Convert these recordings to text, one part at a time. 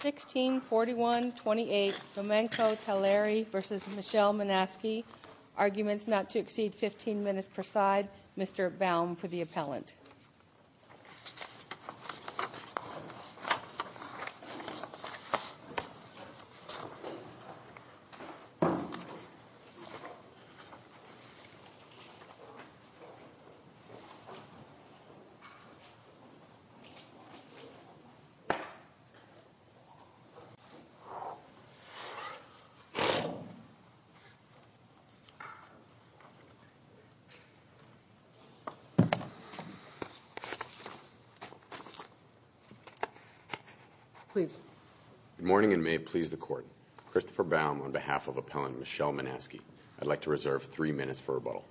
164128 Domenco Taglieri v. Michelle Monasky Arguments not to exceed 15 minutes per side. Mr. Baum for the appellant. Good morning and may it please the court. Christopher Baum on behalf of appellant Michelle Monasky. I'd like to reserve three minutes for rebuttal.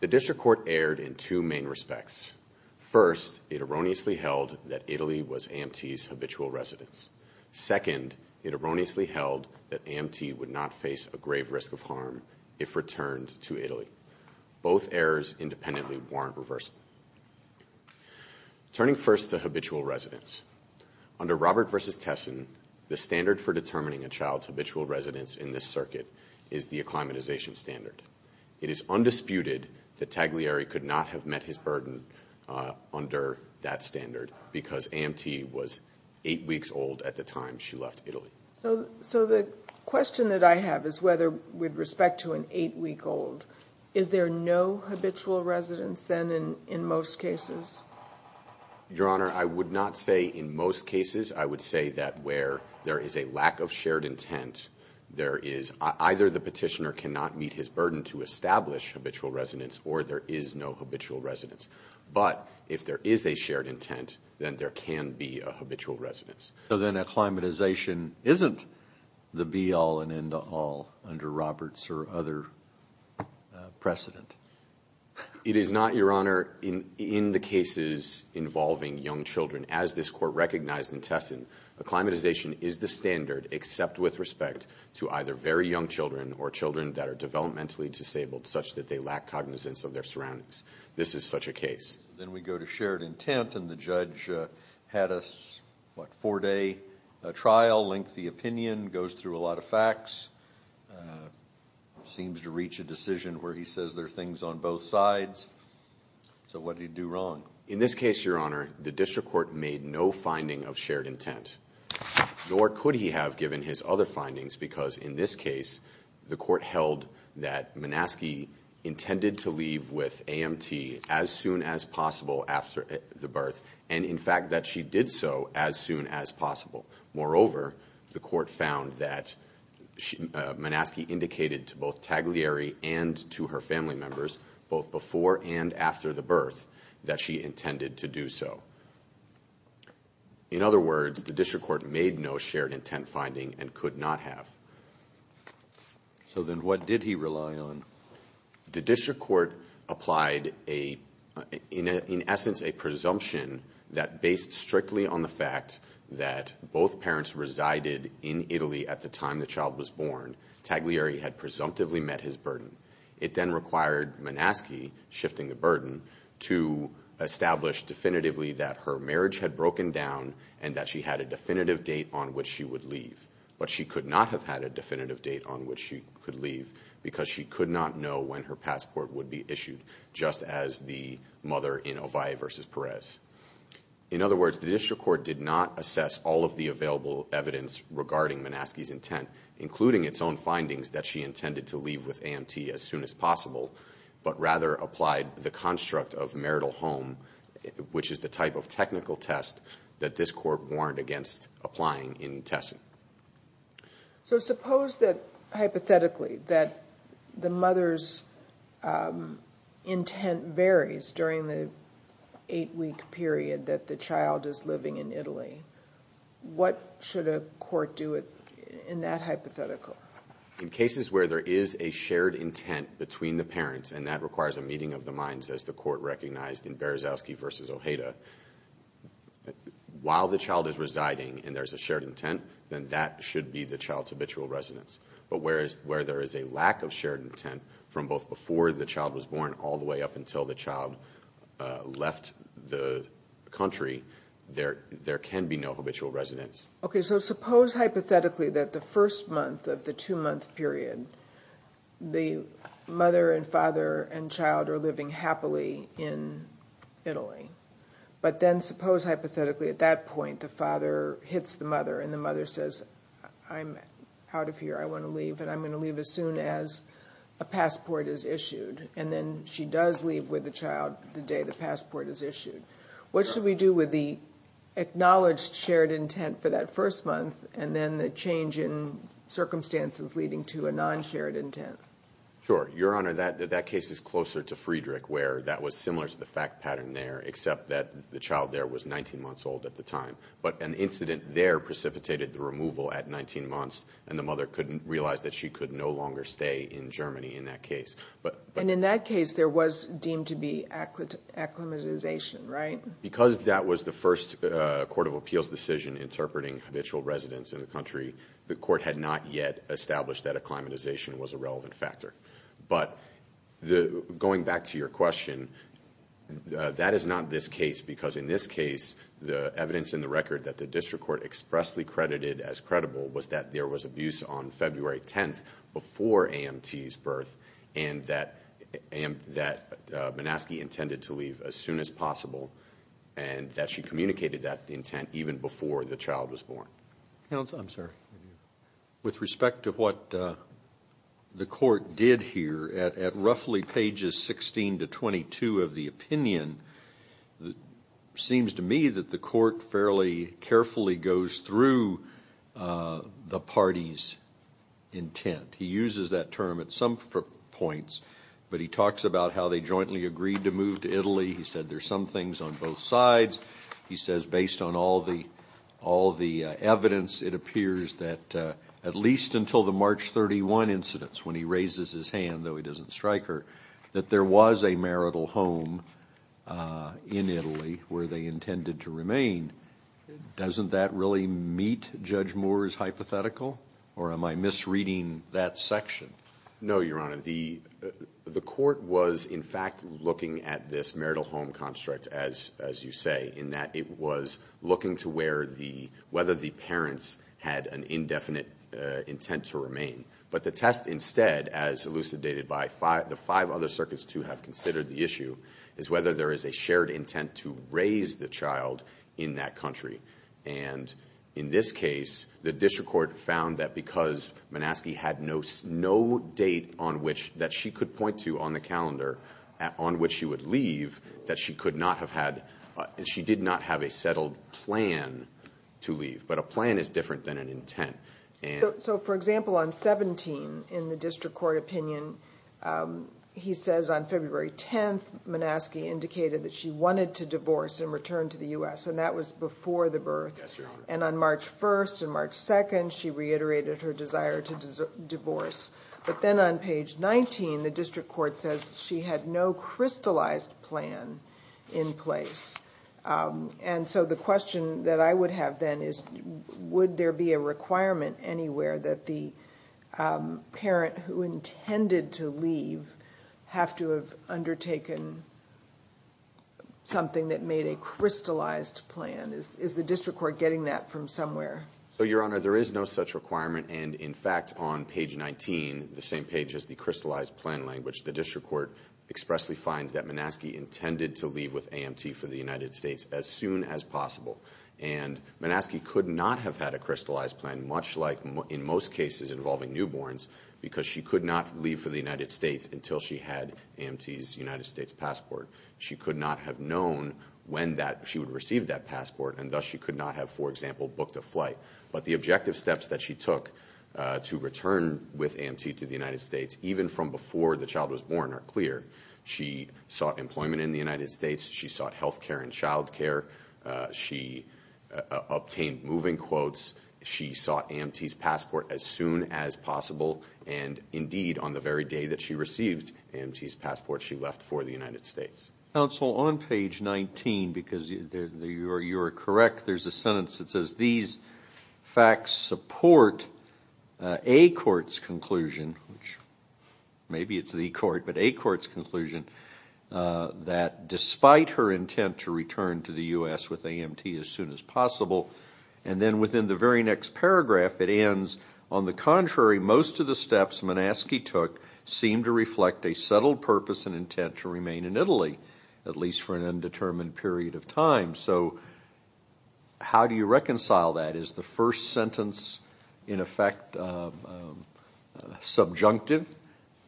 The district court erred in two main respects. First, it erroneously held that Italy was AMT's habitual residence. Second, it erroneously held that AMT would not face a grave risk of harm if returned to Italy. Both errors independently warrant reversal. Turning first to habitual residence. Under Robert v. Tessin, the standard for determining a child's habitual residence in this circuit is the acclimatization standard. It is undisputed that Taglieri could not have met his burden under that standard because AMT was eight weeks old at the time she left Italy. So the question that I have is whether, with respect to an eight-week-old, is there no habitual residence then in most cases? Your Honor, I would not say in most cases. I would say that where there is a lack of shared intent, there is – either the petitioner cannot meet his burden to establish habitual residence or there is no habitual residence. But if there is a shared intent, then there can be a habitual residence. So then acclimatization isn't the be-all and end-all under Roberts or other precedent? It is not, Your Honor. In the cases involving young children, as this Court recognized in Tessin, acclimatization is the standard except with respect to either very young children or children that are developmentally disabled such that they lack cognizance of their surroundings. This is such a case. Then we go to shared intent and the judge had a, what, four-day trial, lengthy opinion, goes through a lot of facts, seems to reach a decision where he says there are things on both sides. So what did he do wrong? In this case, Your Honor, he made no finding of shared intent. Nor could he have given his other findings because in this case, the Court held that Manaske intended to leave with AMT as soon as possible after the birth and, in fact, that she did so as soon as possible. Moreover, the Court found that Manaske indicated to both Taglieri and to her family members, both before and after the birth, that she In other words, the district court made no shared intent finding and could not have. So then what did he rely on? The district court applied a, in essence, a presumption that based strictly on the fact that both parents resided in Italy at the time the child was born, Taglieri had presumptively met his burden. It then required Manaske, shifting the burden, to establish definitively that her marriage had broken down and that she had a definitive date on which she would leave. But she could not have had a definitive date on which she could leave because she could not know when her passport would be issued, just as the mother in Ovalle v. Perez. In other words, the district court did not assess all of the available evidence regarding Manaske's intent, including its own findings that she intended to leave with AMT as soon as possible, but rather applied the test that this court warned against applying in Tessin. So suppose that, hypothetically, that the mother's intent varies during the eight-week period that the child is living in Italy. What should a court do in that hypothetical? In cases where there is a shared intent between the parents, and that requires a meeting of the minds, as the court recognized in Berezauski v. Ojeda, while the child is residing and there's a shared intent, then that should be the child's habitual residence. But where there is a lack of shared intent from both before the child was born all the way up until the child left the country, there can be no habitual residence. Okay. So suppose, hypothetically, that the first month of the two-month period, the mother and father and child are living happily in Italy. But then suppose, hypothetically, at that point the father hits the mother and the mother says, I'm out of here, I want to leave, and I'm going to leave as soon as a passport is issued. And then she does leave with the child the day the passport is issued. What should we do with the acknowledged shared intent for that first month, and then the change in circumstances leading to a non-shared intent? Sure. Your Honor, that case is closer to Friedrich, where that was similar to the fact pattern there, except that the child there was 19 months old at the time. But an incident there precipitated the removal at 19 months, and the mother couldn't realize that she could no longer stay in Germany in that case. And in that case, there was deemed to be acclimatization, right? Because that was the first Court of Appeals decision interpreting habitual residents in the country, the Court had not yet established that acclimatization was a relevant factor. But going back to your question, that is not this case, because in this case, the evidence in the record that the District Court expressly credited as credible was that there was abuse on February 10th before AMT's birth, and that Manaske intended to leave as soon as possible, and that she communicated that intent even before the child was born. Counsel, I'm sorry. With respect to what the Court did here, at roughly pages 16 to 22 of the opinion, it seems to me that the Court fairly carefully goes through the party's intent. He uses that term at some points, but he talks about how they were some things on both sides. He says, based on all the evidence, it appears that at least until the March 31 incidents, when he raises his hand, though he doesn't strike her, that there was a marital home in Italy where they intended to remain. Doesn't that really meet Judge Moore's hypothetical? Or am I misreading that section? No, Your Honor. The Court was, in fact, looking at this marital home construct, as you say, in that it was looking to whether the parents had an indefinite intent to remain. But the test, instead, as elucidated by the five other circuits to have considered the issue, is whether there is a shared intent to raise the child in that country. And in this case, the District Court found that because Manaske had no date that she could point to on the calendar on which she would leave, that she could not have had – she did not have a settled plan to leave. But a plan is different than an intent. And so, for example, on 17, in the District Court opinion, he says on February 10th, Manaske indicated that she wanted to divorce and return to the U.S. And that was before the birth. Yes, Your Honor. And on March 1st and March 2nd, she reiterated her desire to divorce. But then on page 19, the District Court says she had no crystallized plan in place. And so the question that I would have then is, would there be a requirement anywhere that the parent who intended to leave have to have undertaken something that made a crystallized plan? Is the District Court getting that from somewhere? So, Your Honor, there is no such requirement. And in fact, on page 19, the same page as the crystallized plan language, the District Court expressly finds that Manaske intended to leave with AMT for the United States as soon as possible. And Manaske could not have had a crystallized plan, much like in most cases involving newborns, because she could not leave for the United States until she had AMT's United States passport. She could not have known when she would receive that passport. And thus, she could not have, for example, booked a flight. But the objective steps that she took to return with AMT to the United States, even from before the child was born, are clear. She sought employment in the United States. She sought health care and child care. She obtained moving quotes. She sought AMT's passport as soon as possible. And indeed, on the very day that she received AMT's passport, she left for the United States. Counsel, on page 19, because you are correct, there's a sentence that says these facts support a court's conclusion, which maybe it's the court, but a court's conclusion, that despite her intent to return to the US with AMT as soon as possible, and then within the very next paragraph, it ends, on the contrary, most of the steps Manaske took seem to reflect a settled purpose and intent to remain in Italy, at least for an undetermined period of time. So how do you reconcile that? Is the first sentence, in effect, subjunctive?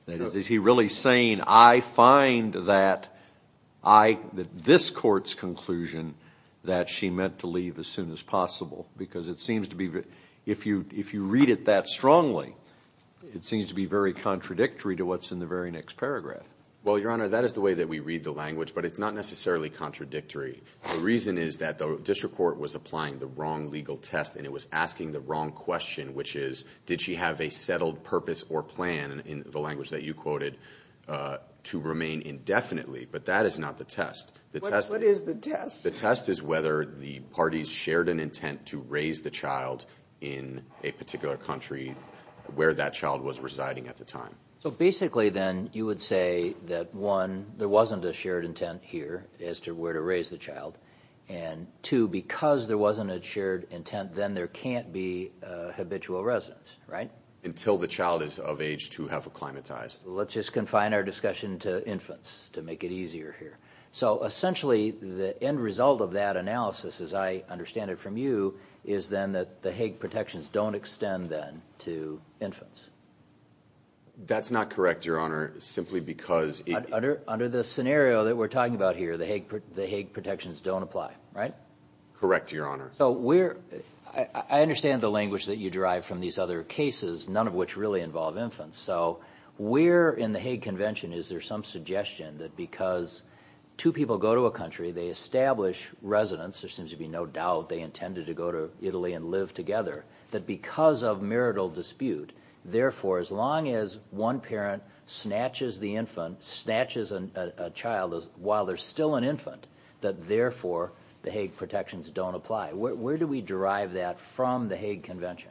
Is he really saying, I find that this court's conclusion that she meant to leave as soon as possible? Because it seems to be, if you read it that strongly, it seems to be very contradictory to what's in the very next paragraph. Well, Your Honor, that is the way that we read the language, but it's not necessarily contradictory. The reason is that the district court was applying the wrong legal test, and it was asking the wrong question, which is, did she have a settled purpose or plan, in the language that you quoted, to remain indefinitely? But that is not the test. What is the test? The test is whether the parties shared an intent to raise the child in a So basically, then, you would say that, one, there wasn't a shared intent here as to where to raise the child, and two, because there wasn't a shared intent, then there can't be a habitual residence, right? Until the child is of age to have acclimatized. Let's just confine our discussion to infants to make it easier here. So essentially, the end result of that analysis, as I understand it from you, is then that the Hague protections don't extend, then, to infants. That's not correct, Your Honor, simply because it... Under the scenario that we're talking about here, the Hague protections don't apply, right? Correct, Your Honor. So we're... I understand the language that you derive from these other cases, none of which really involve infants. So where in the Hague Convention is there some suggestion that because two people go to a country, they establish residence, there seems to be no doubt they intended to go to Italy and live together, that because of marital dispute, therefore, as long as one parent snatches the infant, snatches a child while they're still an infant, that therefore, the Hague protections don't apply? Where do we derive that from the Hague Convention?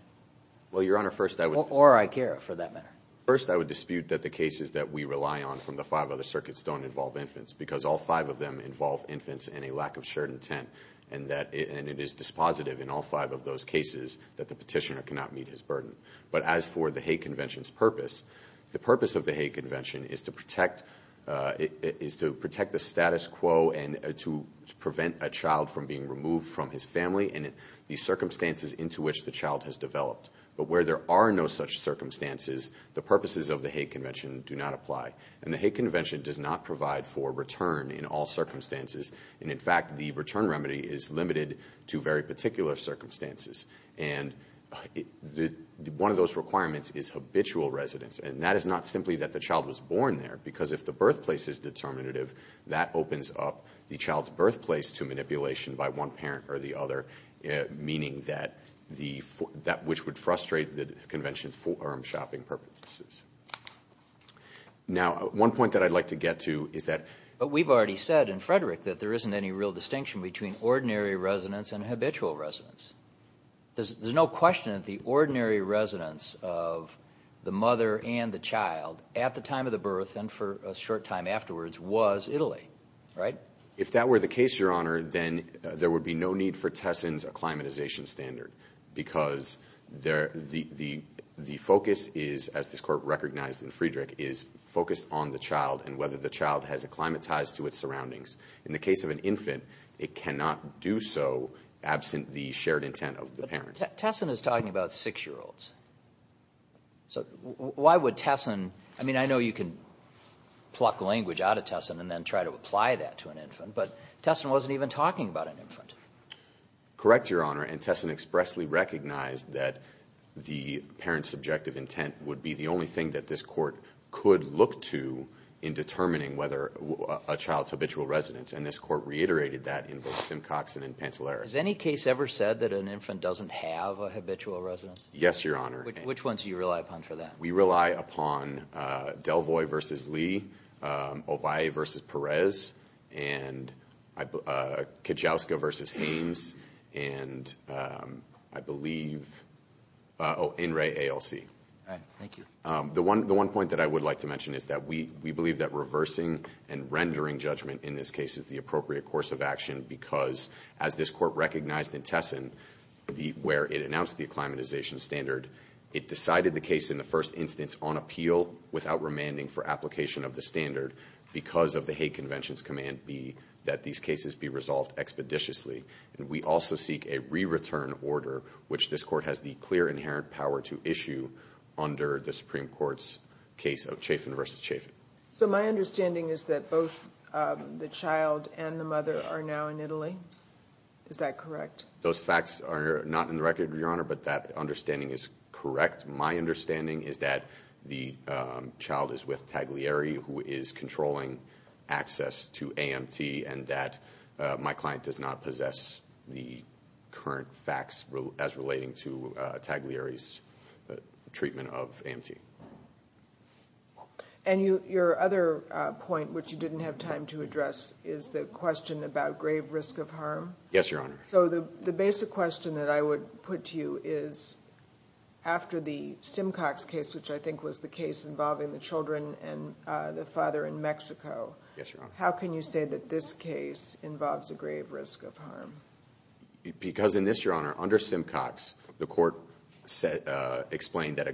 Well, Your Honor, first I would... Or ICARA, for that matter. First I would dispute that the cases that we rely on from the five other circuits don't involve infants, because all five of them involve infants and a lack of shared intent, and it is dispositive in all five of those cases that the petitioner cannot meet his burden. But as for the Hague Convention's purpose, the purpose of the Hague Convention is to protect the status quo and to prevent a child from being removed from his family and the circumstances into which the child has developed. But where there are no such circumstances, the purposes of the Hague Convention do not apply. And the Hague Convention does not provide for return in all circumstances, and in fact, the return remedy is limited to very particular circumstances. And one of those requirements is habitual residence, and that is not simply that the child was born there, because if the birthplace is determinative, that opens up the child's birthplace to manipulation by one parent or the other, meaning that the form that which would frustrate the convention's forum shopping purposes. Now one point that I'd like to get to is that... But we've already said in Frederick that there isn't any real distinction between ordinary residence and habitual residence. There's no question that the ordinary residence of the mother and the child at the time of the birth and for a short time afterwards was Italy, right? If that were the case, Your Honor, then there would be no need for Tesson's acclimatization standard, because the focus is, as this Court recognized in Frederick, is focused on the child and whether the child has acclimatized to its surroundings. In the case of an infant, it cannot do so absent the shared intent of the parents. But Tesson is talking about six-year-olds, so why would Tesson... I mean, I know you can pluck language out of Tesson and then try to apply that to an infant, but Tesson wasn't even talking about an infant. Correct, Your Honor, and Tesson expressly recognized that the parent's subjective intent would be the only thing that this Court could look to in And this Court reiterated that in both Simcoxon and Pantelaris. Has any case ever said that an infant doesn't have a habitual residence? Yes, Your Honor. Which ones do you rely upon for that? We rely upon Delvoy v. Lee, Ovalle v. Perez, and Kachowska v. Haynes, and I believe, oh, In re, ALC. All right, thank you. The one point that I would like to mention is that we believe that reversing and rendering judgment in this case is the appropriate course of action because, as this Court recognized in Tesson, where it announced the acclimatization standard, it decided the case in the first instance on appeal without remanding for application of the standard because of the Hague Convention's Command B that these cases be resolved expeditiously. And we also seek a re-return order, which this Court has the clear inherent power to issue under the Supreme Court's case of Chafin v. Chafin. So my understanding is that both the child and the mother are now in Italy? Is that correct? Those facts are not in the record, Your Honor, but that understanding is correct. My understanding is that the child is with Taglieri, who is controlling access to AMT, and that my client does not possess the current facts as relating to Taglieri's treatment of AMT. And your other point, which you didn't have time to address, is the question about grave risk of harm? Yes, Your Honor. So the basic question that I would put to you is, after the Simcox case, which I think was the case involving the children and the father in Mexico, how can you say that this case involves a grave risk of harm? Because in this, Your Honor, under Simcox, the Court explained that a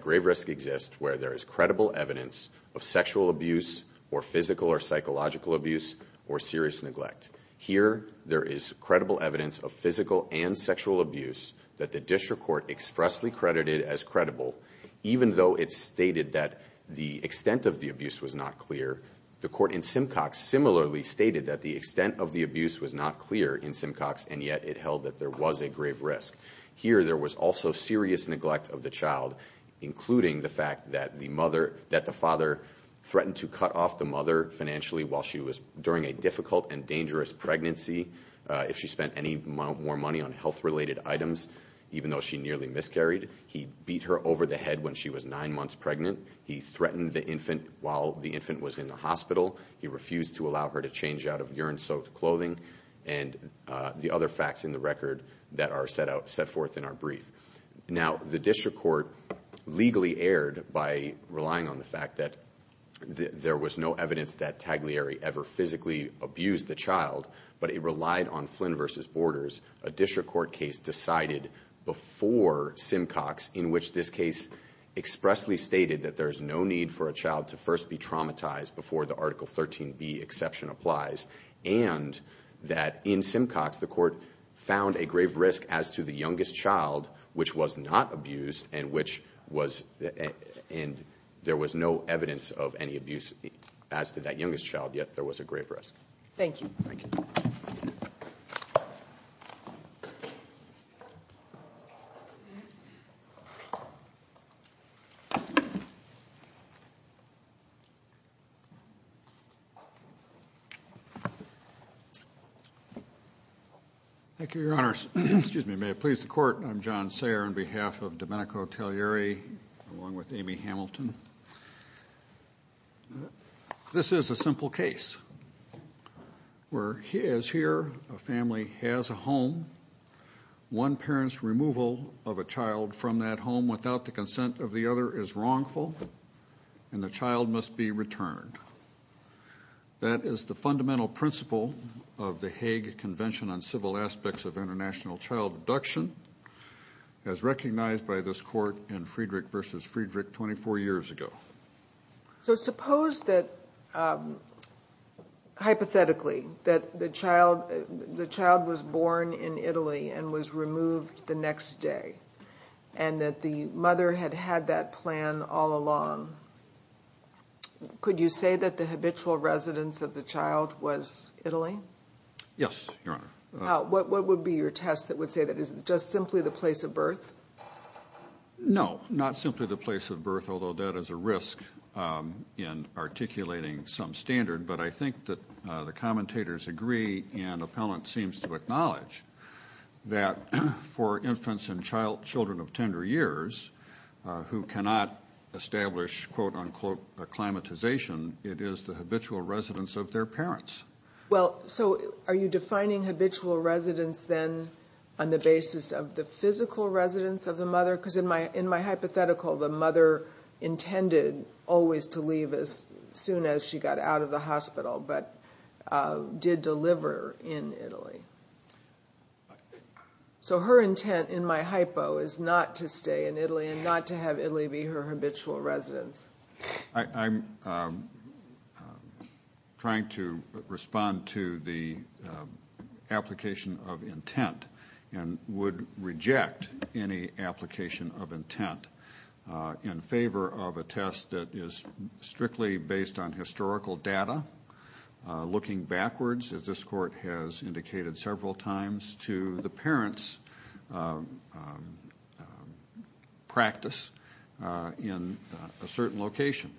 where there is credible evidence of sexual abuse or physical or psychological abuse or serious neglect. Here, there is credible evidence of physical and sexual abuse that the district court expressly credited as credible, even though it stated that the extent of the abuse was not clear. The court in Simcox similarly stated that the extent of the abuse was not clear in Simcox, and yet it held that there was a grave risk. Here there was also serious neglect of the child, including the fact that the father threatened to cut off the mother financially while she was during a difficult and dangerous pregnancy if she spent any more money on health related items, even though she nearly miscarried. He beat her over the head when she was nine months pregnant. He threatened the infant while the infant was in the hospital. He refused to allow her to change out of urine soaked clothing. And the other facts in the record that are set forth in our brief. Now, the district court legally erred by relying on the fact that there was no evidence that Taglieri ever physically abused the child, but it relied on Flynn versus Borders, a district court case decided before Simcox, in which this case expressly stated that there's no need for a child to first be traumatized before the Article 13B exception applies. And that in Simcox, the court found a grave risk as to the youngest child, which was not abused, and there was no evidence of any abuse as to that youngest child, yet there was a grave risk. Thank you. Thank you. Thank you, your honors. Excuse me, may it please the court. I'm John Sayer on behalf of Domenico Taglieri, along with Amy Hamilton. This is a simple case. Where he is here, a family has a home. One parent's removal of a child from that home without the consent of the other is wrongful, and the child must be returned. That is the fundamental principle of the Hague Convention on Civil Aspects of International Child Abduction, as recognized by this court in Friedrich versus Friedrich 24 years ago. So suppose that, hypothetically, that the child was born in Italy and was removed the next day, and that the mother had had that plan all along. Could you say that the habitual residence of the child was Italy? Yes, your honor. What would be your test that would say that? Is it just simply the place of birth? No, not simply the place of birth, although that is a risk in articulating some standard, but I think that the commentators agree, and the appellant seems to acknowledge that for infants and children of tender years, who cannot establish, quote unquote, acclimatization, it is the habitual residence of their parents. Well, so are you defining habitual residence then on the basis of the physical residence of the mother? Because in my hypothetical, the mother intended always to leave as soon as she got out of the hospital, but did deliver in Italy. So her intent, in my hypo, is not to stay in Italy, and not to have Italy be her habitual residence. I'm trying to respond to the application of intent, and would reject any application of intent in favor of a test that is strictly based on historical data. Looking backwards, as this court has indicated several times to the parents' practice in a certain location,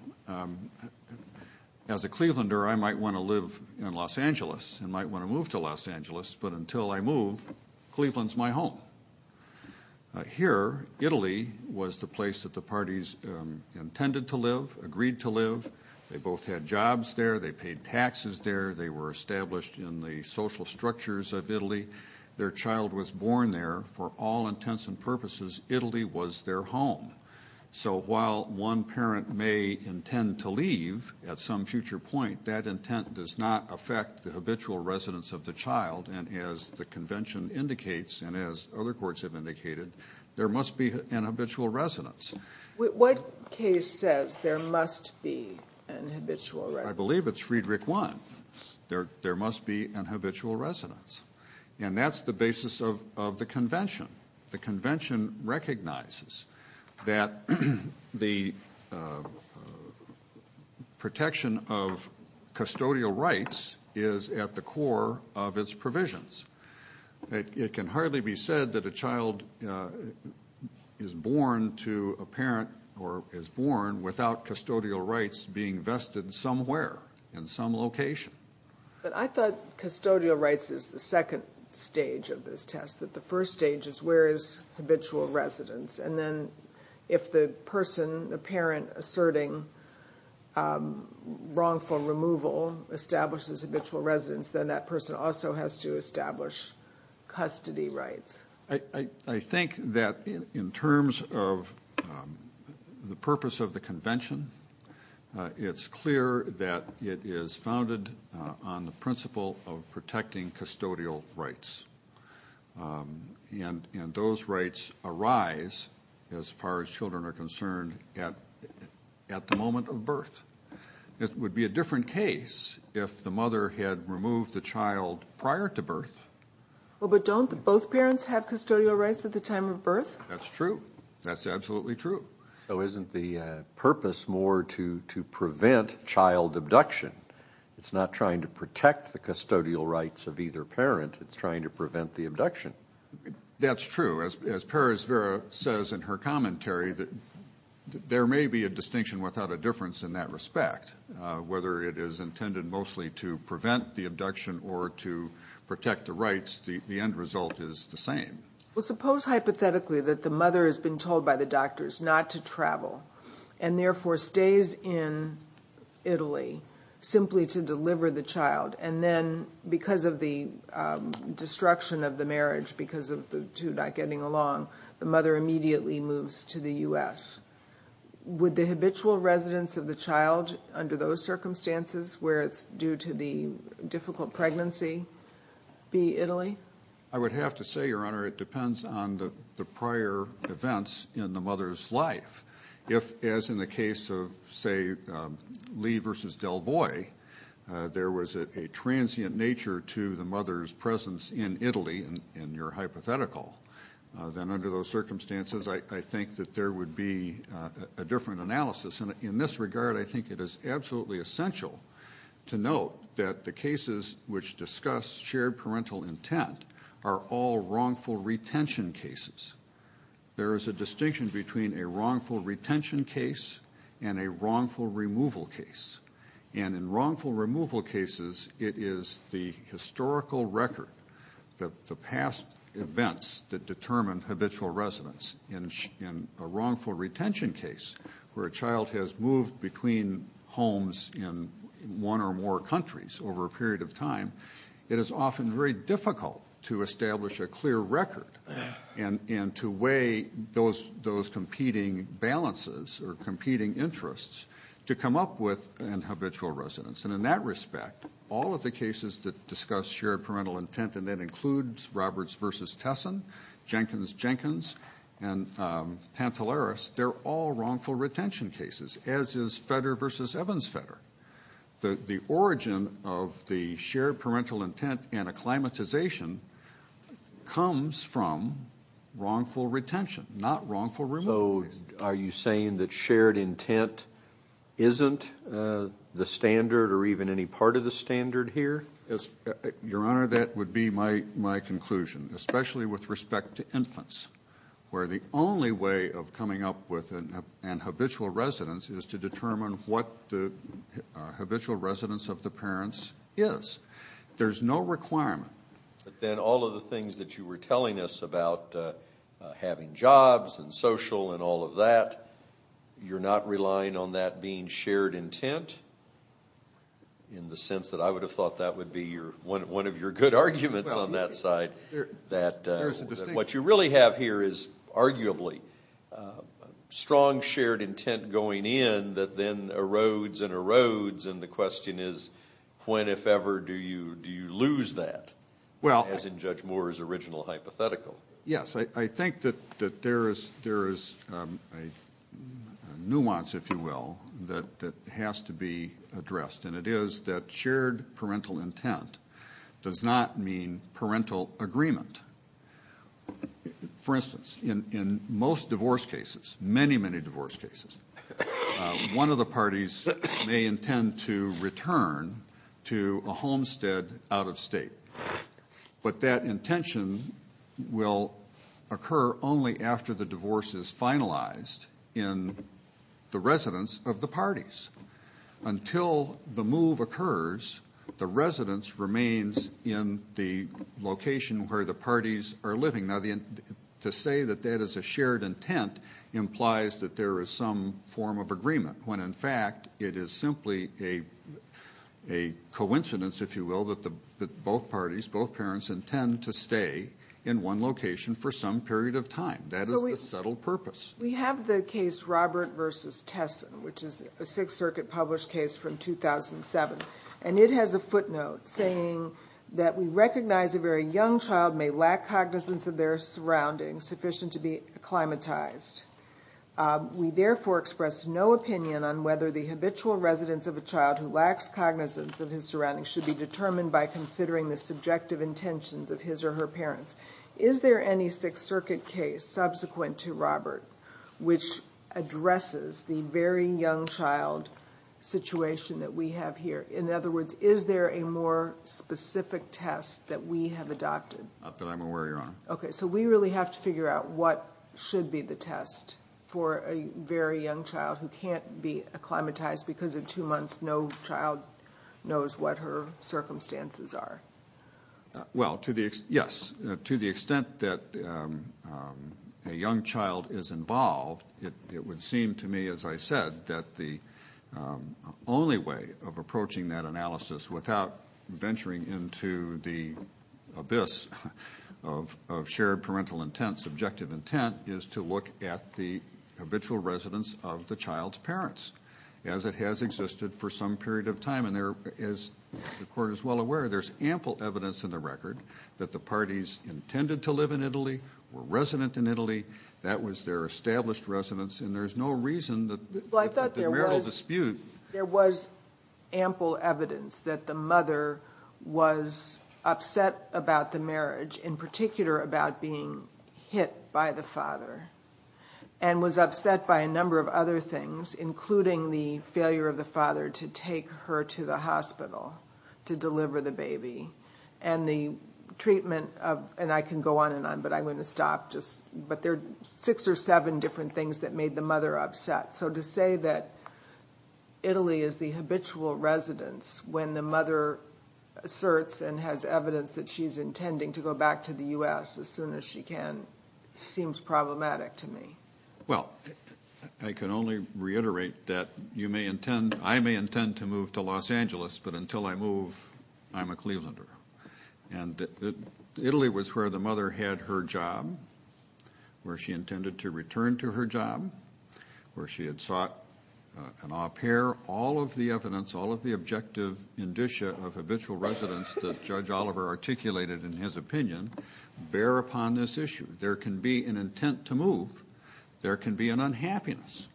as a Clevelander, I might want to live in Los Angeles, and might want to move to Los Angeles, but until I move, Cleveland's my home. Here, Italy was the place that the parties intended to live, agreed to live. They both had jobs there, they paid taxes there, they were established in the social structures of Italy. Their child was born there, for all intents and purposes, Italy was their home. So while one parent may intend to leave at some future point, that intent does not affect the habitual residence of the child. And as the convention indicates, and as other courts have indicated, there must be an habitual residence. What case says there must be an habitual residence? I believe it's Friedrich I. There must be an habitual residence. And that's the basis of the convention. The convention recognizes that the protection of custodial rights is at the core of its provisions. It can hardly be said that a child is born to a parent, or is born without custodial rights being vested somewhere, in some location. But I thought custodial rights is the second stage of this test, that the first stage is where is habitual residence? And then if the person, the parent, asserting wrongful removal establishes habitual residence, then that person also has to establish custody rights. I think that in terms of the purpose of the convention, it's clear that it is founded on the principle of protecting custodial rights. And those rights arise, as far as children are concerned, at the moment of birth. It would be a different case if the mother had removed the child prior to birth. Well, but don't both parents have custodial rights at the time of birth? That's true. That's absolutely true. So isn't the purpose more to prevent child abduction? It's not trying to protect the custodial rights of either parent. It's trying to prevent the abduction. That's true. As Perez-Vera says in her commentary, that there may be a distinction without a difference in that respect. Whether it is intended mostly to prevent the abduction or to protect the rights, the end result is the same. Well, suppose hypothetically that the mother has been told by the doctors not to travel, and therefore stays in Italy simply to deliver the child. And then because of the destruction of the marriage, because of the two not getting along, the mother immediately moves to the US. Would the habitual residence of the child under those circumstances, where it's due to the difficult pregnancy, be Italy? I would have to say, Your Honor, it depends on the prior events in the mother's life. If, as in the case of, say, Lee versus Delvoye, there was a transient nature to the mother's presence in Italy, and you're hypothetical, then under those circumstances, I think that there would be a different analysis. And in this regard, I think it is absolutely essential to note that the cases which discuss shared parental intent are all wrongful retention cases. There is a distinction between a wrongful retention case and a wrongful removal case. And in wrongful removal cases, it is the historical record, the past events that determine habitual residence. In a wrongful retention case, where a child has moved between homes in one or more countries over a period of time, it is often very difficult to establish a clear record and to weigh those competing balances or competing interests to come up with in habitual residence. And in that respect, all of the cases that discuss shared parental intent, and that includes Roberts versus Tesson, Jenkins, Jenkins, and Pantelaris, they're all wrongful retention cases, as is Fetter versus Evans-Fetter. The origin of the shared parental intent and acclimatization comes from wrongful retention, not wrongful removal. So are you saying that shared intent isn't the standard or even any part of the standard here? Yes, Your Honor, that would be my conclusion, especially with respect to infants, where the only way of coming up with an habitual residence is to determine what the habitual residence of the parents is. There's no requirement. But then all of the things that you were telling us about having jobs and social and all of that, you're not relying on that being shared intent, in the sense that I would have thought that would be one of your good arguments on that side, that what you really have here is arguably strong shared intent going in that then erodes and erodes. And the question is, when, if ever, do you lose that, as in Judge Moore's original hypothetical? Yes, I think that there is a nuance, if you will, that has to be addressed. And it is that shared parental intent does not mean parental agreement. For instance, in most divorce cases, many, many divorce cases, one of the parties may intend to return to a homestead out of state. But that intention will occur only after the divorce is finalized in the residence of the parties. Until the move occurs, the residence remains in the location where the parties are living. Now, to say that that is a shared intent implies that there is some form of agreement, when in fact it is simply a coincidence, if you will, that both parties, both parents, intend to stay in one location for some period of time. That is the subtle purpose. We have the case Robert versus Tesson, which is a Sixth Circuit published case from 2007. And it has a footnote saying that we recognize a very young child may lack cognizance of their surroundings sufficient to be acclimatized. We therefore express no opinion on whether the habitual residence of a child who lacks cognizance of his surroundings should be determined by considering the subjective intentions of his or her parents. Is there any Sixth Circuit case subsequent to Robert which addresses the very young child situation that we have here? In other words, is there a more specific test that we have adopted? Not that I'm aware, Your Honor. Okay, so we really have to figure out what should be the test for a very young child who can't be acclimatized because in two months no child knows what her circumstances are. Well, yes, to the extent that a young child is involved, it would seem to me, as I said, that the only way of approaching that analysis without venturing into the abyss of shared parental intent, subjective intent, is to look at the habitual residence of the child's parents as it has existed for some period of time. And there, as the Court is well aware, there's ample evidence in the record that the parties intended to live in Italy, were resident in Italy. That was their established residence. And there's no reason that the marital dispute. Well, I thought there was ample evidence that the mother was upset about the marriage, in particular about being hit by the father, and was upset by a number of other things, including the failure of the father to take her to the hospital to deliver the baby. And the treatment of, and I can go on and on, but I'm going to stop just, but there are six or seven different things that made the mother upset. So to say that Italy is the habitual residence when the mother asserts and has evidence that she's intending to go back to the U.S. as soon as she can seems problematic to me. Well, I can only reiterate that you may intend, I may intend to move to Los Angeles, but until I move, I'm a Clevelander. And Italy was where the mother had her job, where she intended to return to her job, where she had sought an au pair. All of the evidence, all of the objective indicia of habitual residence that Judge Oliver articulated in his opinion, bear upon this issue. There can be an intent to move, there can be an unhappiness,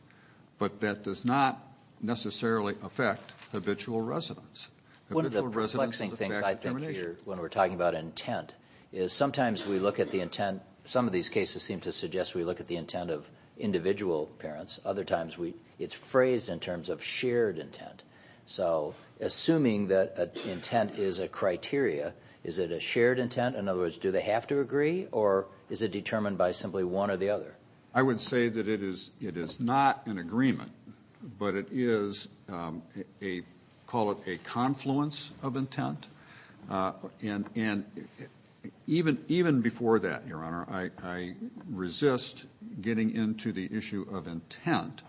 but that does not necessarily affect habitual residence. Habitual residence is a fact of termination. One of the perplexing things I think here when we're talking about intent is sometimes we look at the intent, some of these cases seem to suggest we look at the intent of individual parents. Other times it's phrased in terms of shared intent. So assuming that intent is a criteria, is it a shared intent? In other words, do they have to agree or is it determined by simply one or the other? I would say that it is not an agreement, but it is a, call it a confluence of intent. And even before that, Your Honor, I resist getting into the issue of intent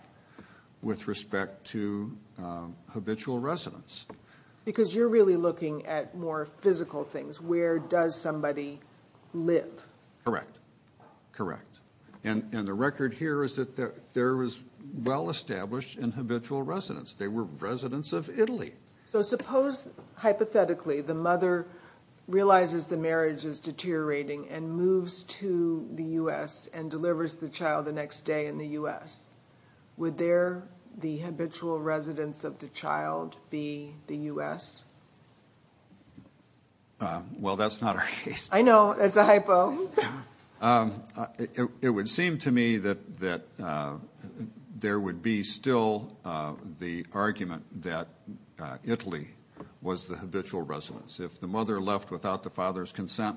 with respect to habitual residence. Because you're really looking at more physical things. Where does somebody live? Correct. Correct. And the record here is that there is well-established in habitual residence. They were residents of Italy. So suppose, hypothetically, the mother realizes the marriage is deteriorating and moves to the U.S. and delivers the child the next day in the U.S. Would there, the habitual residence of the child be the U.S.? Well, that's not our case. I know. That's a hypo. It would seem to me that there would be still the argument that Italy was the habitual residence. If the mother left without the father's consent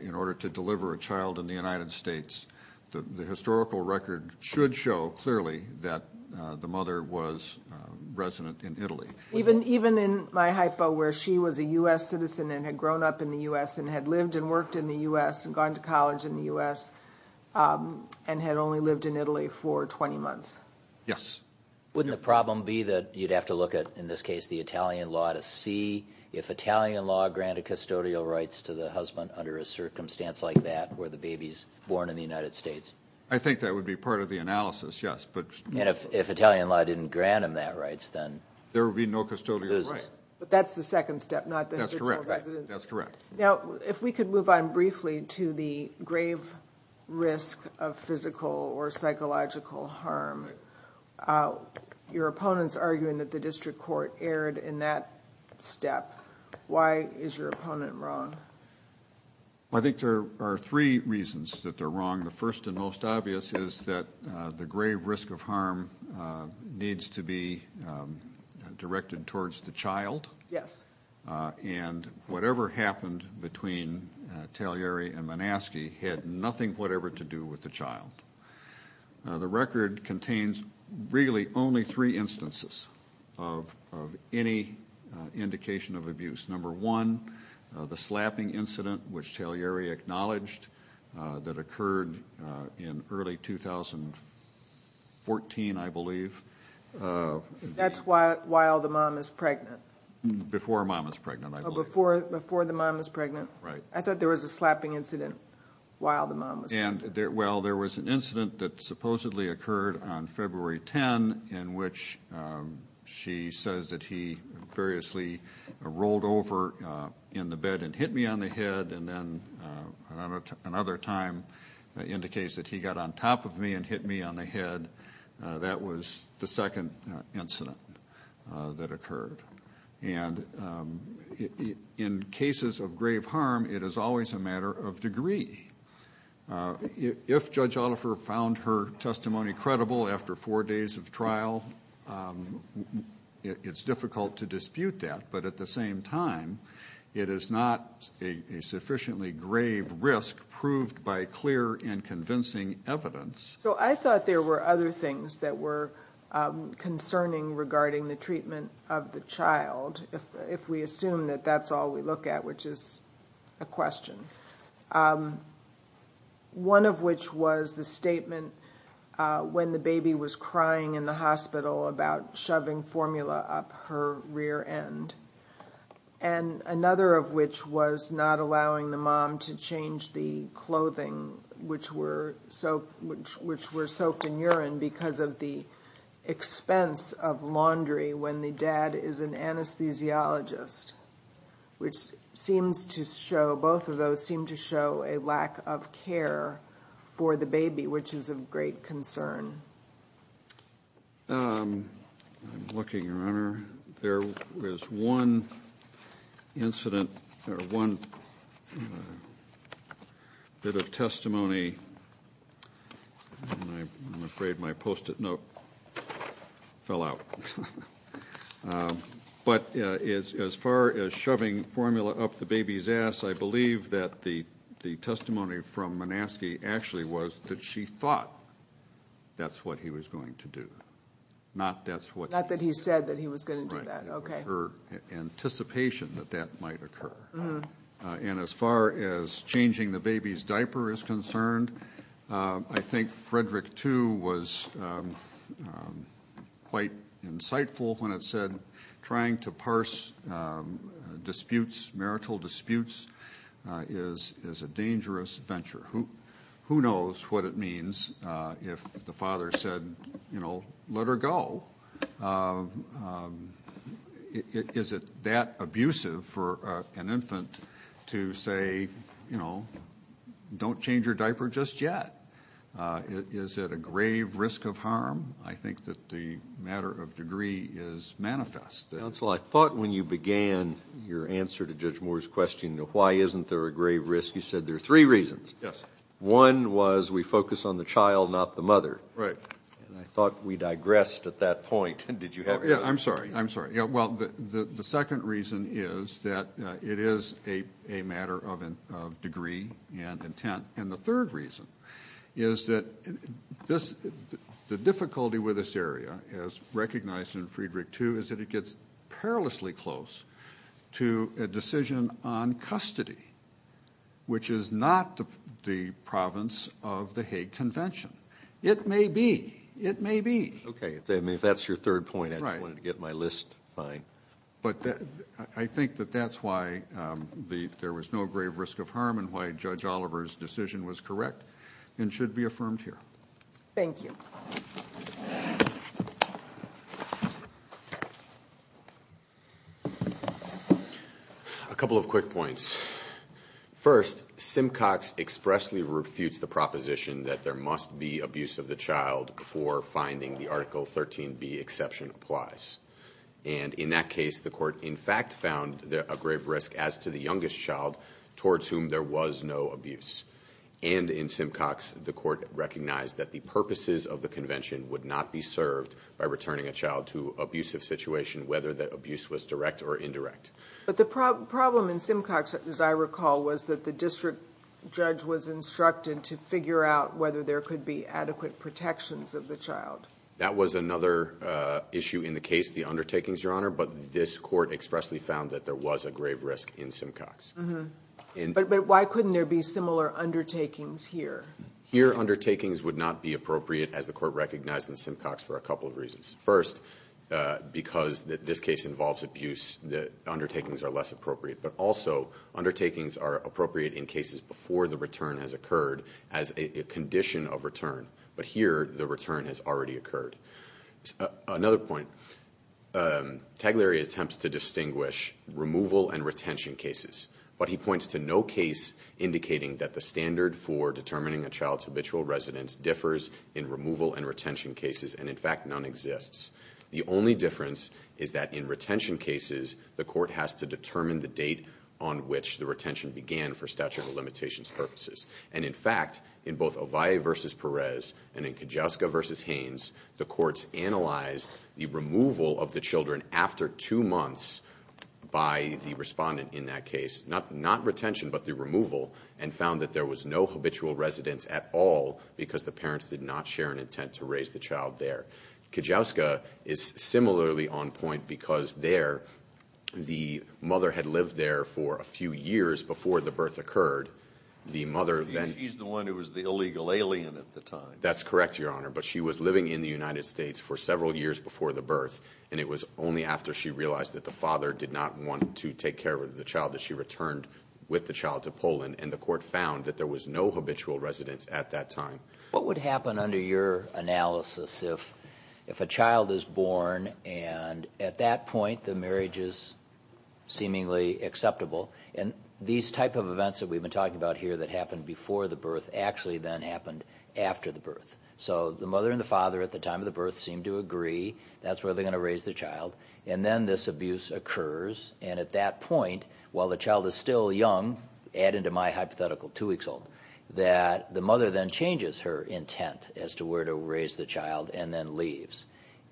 in order to deliver a child in the United States, the historical record should show clearly that the mother was resident in Italy. Even in my hypo where she was a U.S. citizen and had grown up in the U.S. and had lived and worked in the U.S. and gone to college in the U.S. and had only lived in Italy for 20 months? Yes. Wouldn't the problem be that you'd have to look at, in this case, the Italian law to see if Italian law granted custodial rights to the husband under a circumstance like that where the baby's born in the United States? I think that would be part of the analysis, yes. And if Italian law didn't grant him that rights, then? There would be no custodial rights. But that's the second step, not the habitual residence. That's correct. Now, if we could move on briefly to the grave risk of physical or psychological harm. Your opponent's arguing that the district court erred in that step. Why is your opponent wrong? I think there are three reasons that they're wrong. The first and most obvious is that the grave risk of harm needs to be directed towards the child. Yes. And whatever happened between Tagliari and Manaski had nothing whatever to do with the child. The record contains really only three instances of any indication of abuse. Number one, the slapping incident which Tagliari acknowledged that occurred in early 2014, I believe. That's while the mom is pregnant. Before mom is pregnant, I believe. Before the mom is pregnant. Right. I thought there was a slapping incident while the mom was pregnant. Well, there was an incident that supposedly occurred on February 10 in which she says that he furiously rolled over in the bed and hit me on the head. And then another time indicates that he got on top of me and hit me on the head. That was the second incident that occurred. And in cases of grave harm, it is always a matter of degree. If Judge Oliver found her testimony credible after four days of trial, it's difficult to dispute that. But at the same time, it is not a sufficiently grave risk proved by clear and convincing evidence. So I thought there were other things that were concerning regarding the treatment of the child if we assume that that's all we look at which is a question. One of which was the statement when the baby was crying in the hospital about shoving formula up her rear end. And another of which was not allowing the mom to change the clothing which were soaked in urine because of the expense of laundry when the dad is an anesthesiologist. Which seems to show, both of those seem to show a lack of care for the baby which is of great concern. I'm looking, Your Honor. There was one incident, or one bit of testimony, and I'm afraid my post-it note fell out. But as far as shoving formula up the baby's ass, I believe that the testimony from Manaske actually was that she thought that's what he was going to do. Not that's what- Not that he said that he was going to do that. Right. Okay. Her anticipation that that might occur. And as far as changing the baby's diaper is concerned, I think Frederick, too, was quite insightful when it said, trying to parse disputes, marital disputes, is a dangerous venture. Who knows what it means if the father said, you know, let her go. Is it that abusive for an infant to say, you know, don't change your diaper just yet? Is it a grave risk of harm? I think that the matter of degree is manifest. Counsel, I thought when you began your answer to Judge Moore's question of why isn't there a grave risk, you said there are three reasons. Yes. One was we focus on the child, not the mother. Right. And I thought we digressed at that point. Did you have- Yeah, I'm sorry. I'm sorry. Yeah, well, the second reason is that it is a matter of degree and intent. And the third reason is that the difficulty with this area, as recognized in Frederick, too, is that it gets perilously close to a decision on custody, which is not the province of the Hague Convention. It may be. It may be. Okay, if that's your third point, I just wanted to get my list. Fine. But I think that that's why there was no grave risk of harm and why Judge Oliver's decision was correct and should be affirmed here. Thank you. A couple of quick points. First, Simcox expressly refutes the proposition that there must be abuse of the child before finding the Article 13b exception applies. And in that case, the court in fact found a grave risk as to the youngest child towards whom there was no abuse. And in Simcox, the court recognized that the purposes of the convention would not be served by returning a child to abusive situation, whether the abuse was direct or indirect. But the problem in Simcox, as I recall, was that the district judge was instructed to figure out whether there could be adequate protections of the child. That was another issue in the case, the undertakings, Your Honor, but this court expressly found that there was a grave risk in Simcox. But why couldn't there be similar undertakings here? Here, undertakings would not be appropriate, as the court recognized in Simcox, for a couple of reasons. First, because this case involves abuse, the undertakings are less appropriate. But also, undertakings are appropriate in cases before the return has occurred as a condition of return. But here, the return has already occurred. Another point, Taglieri attempts to distinguish removal and retention cases. But he points to no case indicating that the standard for determining a child's The only difference is that in retention cases, the court has to determine the date on which the retention began for statute of limitations purposes. And in fact, in both Ovalle versus Perez and in Kujawska versus Haynes, the courts analyzed the removal of the children after two months by the respondent in that case, not retention but the removal, and found that there was no habitual residence at all because the parents did not share an intent to raise the child there. Kujawska is similarly on point because there, the mother had lived there for a few years before the birth occurred. The mother then- She's the one who was the illegal alien at the time. That's correct, Your Honor. But she was living in the United States for several years before the birth, and it was only after she realized that the father did not want to take care of the child that she returned with the child to Poland. And the court found that there was no habitual residence at that time. What would happen under your analysis if a child is born and at that point the marriage is seemingly acceptable, and these type of events that we've been talking about here that happened before the birth actually then happened after the birth. So the mother and the father at the time of the birth seem to agree, that's where they're going to raise the child, and then this abuse occurs. And at that point, while the child is still young, add into my hypothetical, two weeks old, that the mother then changes her intent as to where to raise the child and then leaves.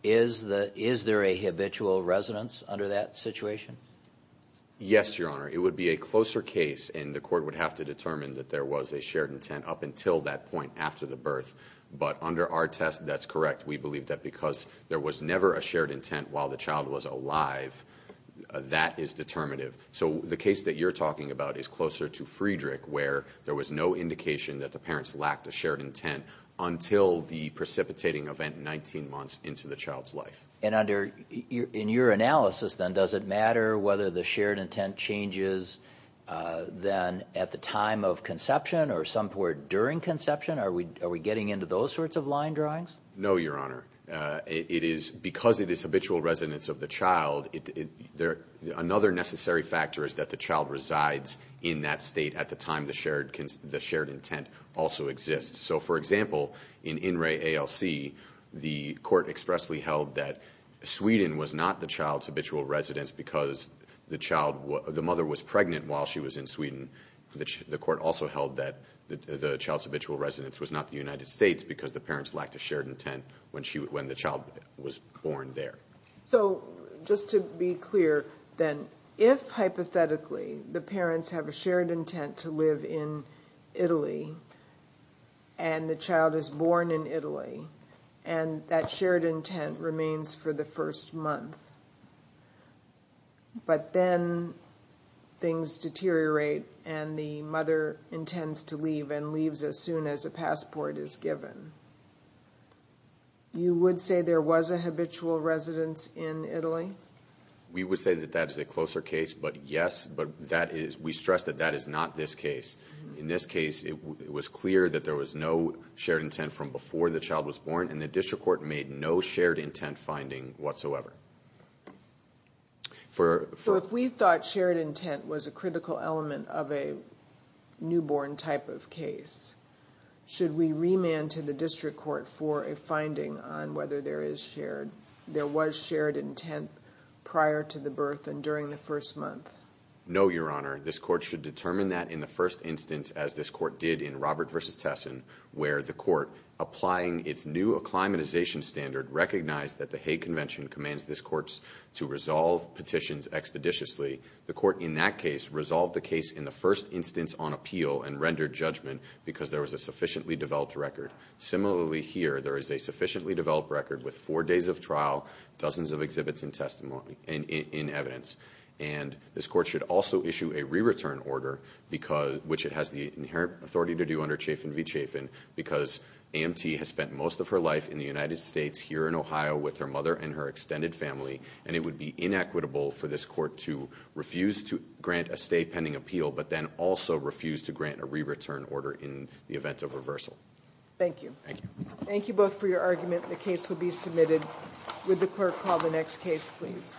Is there a habitual residence under that situation? Yes, Your Honor. It would be a closer case, and the court would have to determine that there was a shared intent up until that point after the birth. But under our test, that's correct. We believe that because there was never a shared intent while the child was alive, that is determinative. So the case that you're talking about is closer to Friedrich, where there was no indication that the parents lacked a shared intent until the precipitating event 19 months into the child's life. And under, in your analysis then, does it matter whether the shared intent changes then at the time of conception or somewhere during conception? Are we getting into those sorts of line drawings? No, Your Honor. It is, because it is habitual residence of the child, another necessary factor is that the child resides in that state at the time the shared intent also exists. So for example, in In Re ALC, the court expressly held that Sweden was not the child's habitual residence because the child, the mother was pregnant while she was in Sweden. The court also held that the child's habitual residence was not the United States because the parents lacked a shared intent when the child was born there. So just to be clear then, if hypothetically, the parents have a shared intent to live in Italy, and the child is born in Italy, and that shared intent remains for the first month, but then things deteriorate and the mother intends to leave and leaves as soon as a passport is given, you would say there was a habitual residence in Italy? We would say that that is a closer case, but yes, but that is, we stress that that is not this case. In this case, it was clear that there was no shared intent from before the child was born, and the district court made no shared intent finding whatsoever. So if we thought shared intent was a critical element of a newborn type of case, should we remand to the district court for a finding on whether there is shared, there was shared intent prior to the birth and during the first month? No, Your Honor. This court should determine that in the first instance as this court did in Robert versus Tesson, where the court, applying its new acclimatization standard, recognized that the Hague Convention commands this court to resolve petitions expeditiously. The court in that case resolved the case in the first instance on appeal and rendered judgment because there was a sufficiently developed record. Similarly here, there is a sufficiently developed record with four days of trial, dozens of exhibits and testimony in evidence. And this court should also issue a re-return order, which it has the inherent authority to do under chafin v. chafin, because AMT has spent most of her life in the United States here in Ohio with her mother and her extended family, and it would be inequitable for this court to refuse to grant a stay pending appeal, but then also refuse to grant a re-return order in the event of reversal. Thank you. Thank you. Thank you both for your argument. The case will be submitted. Would the clerk call the next case, please?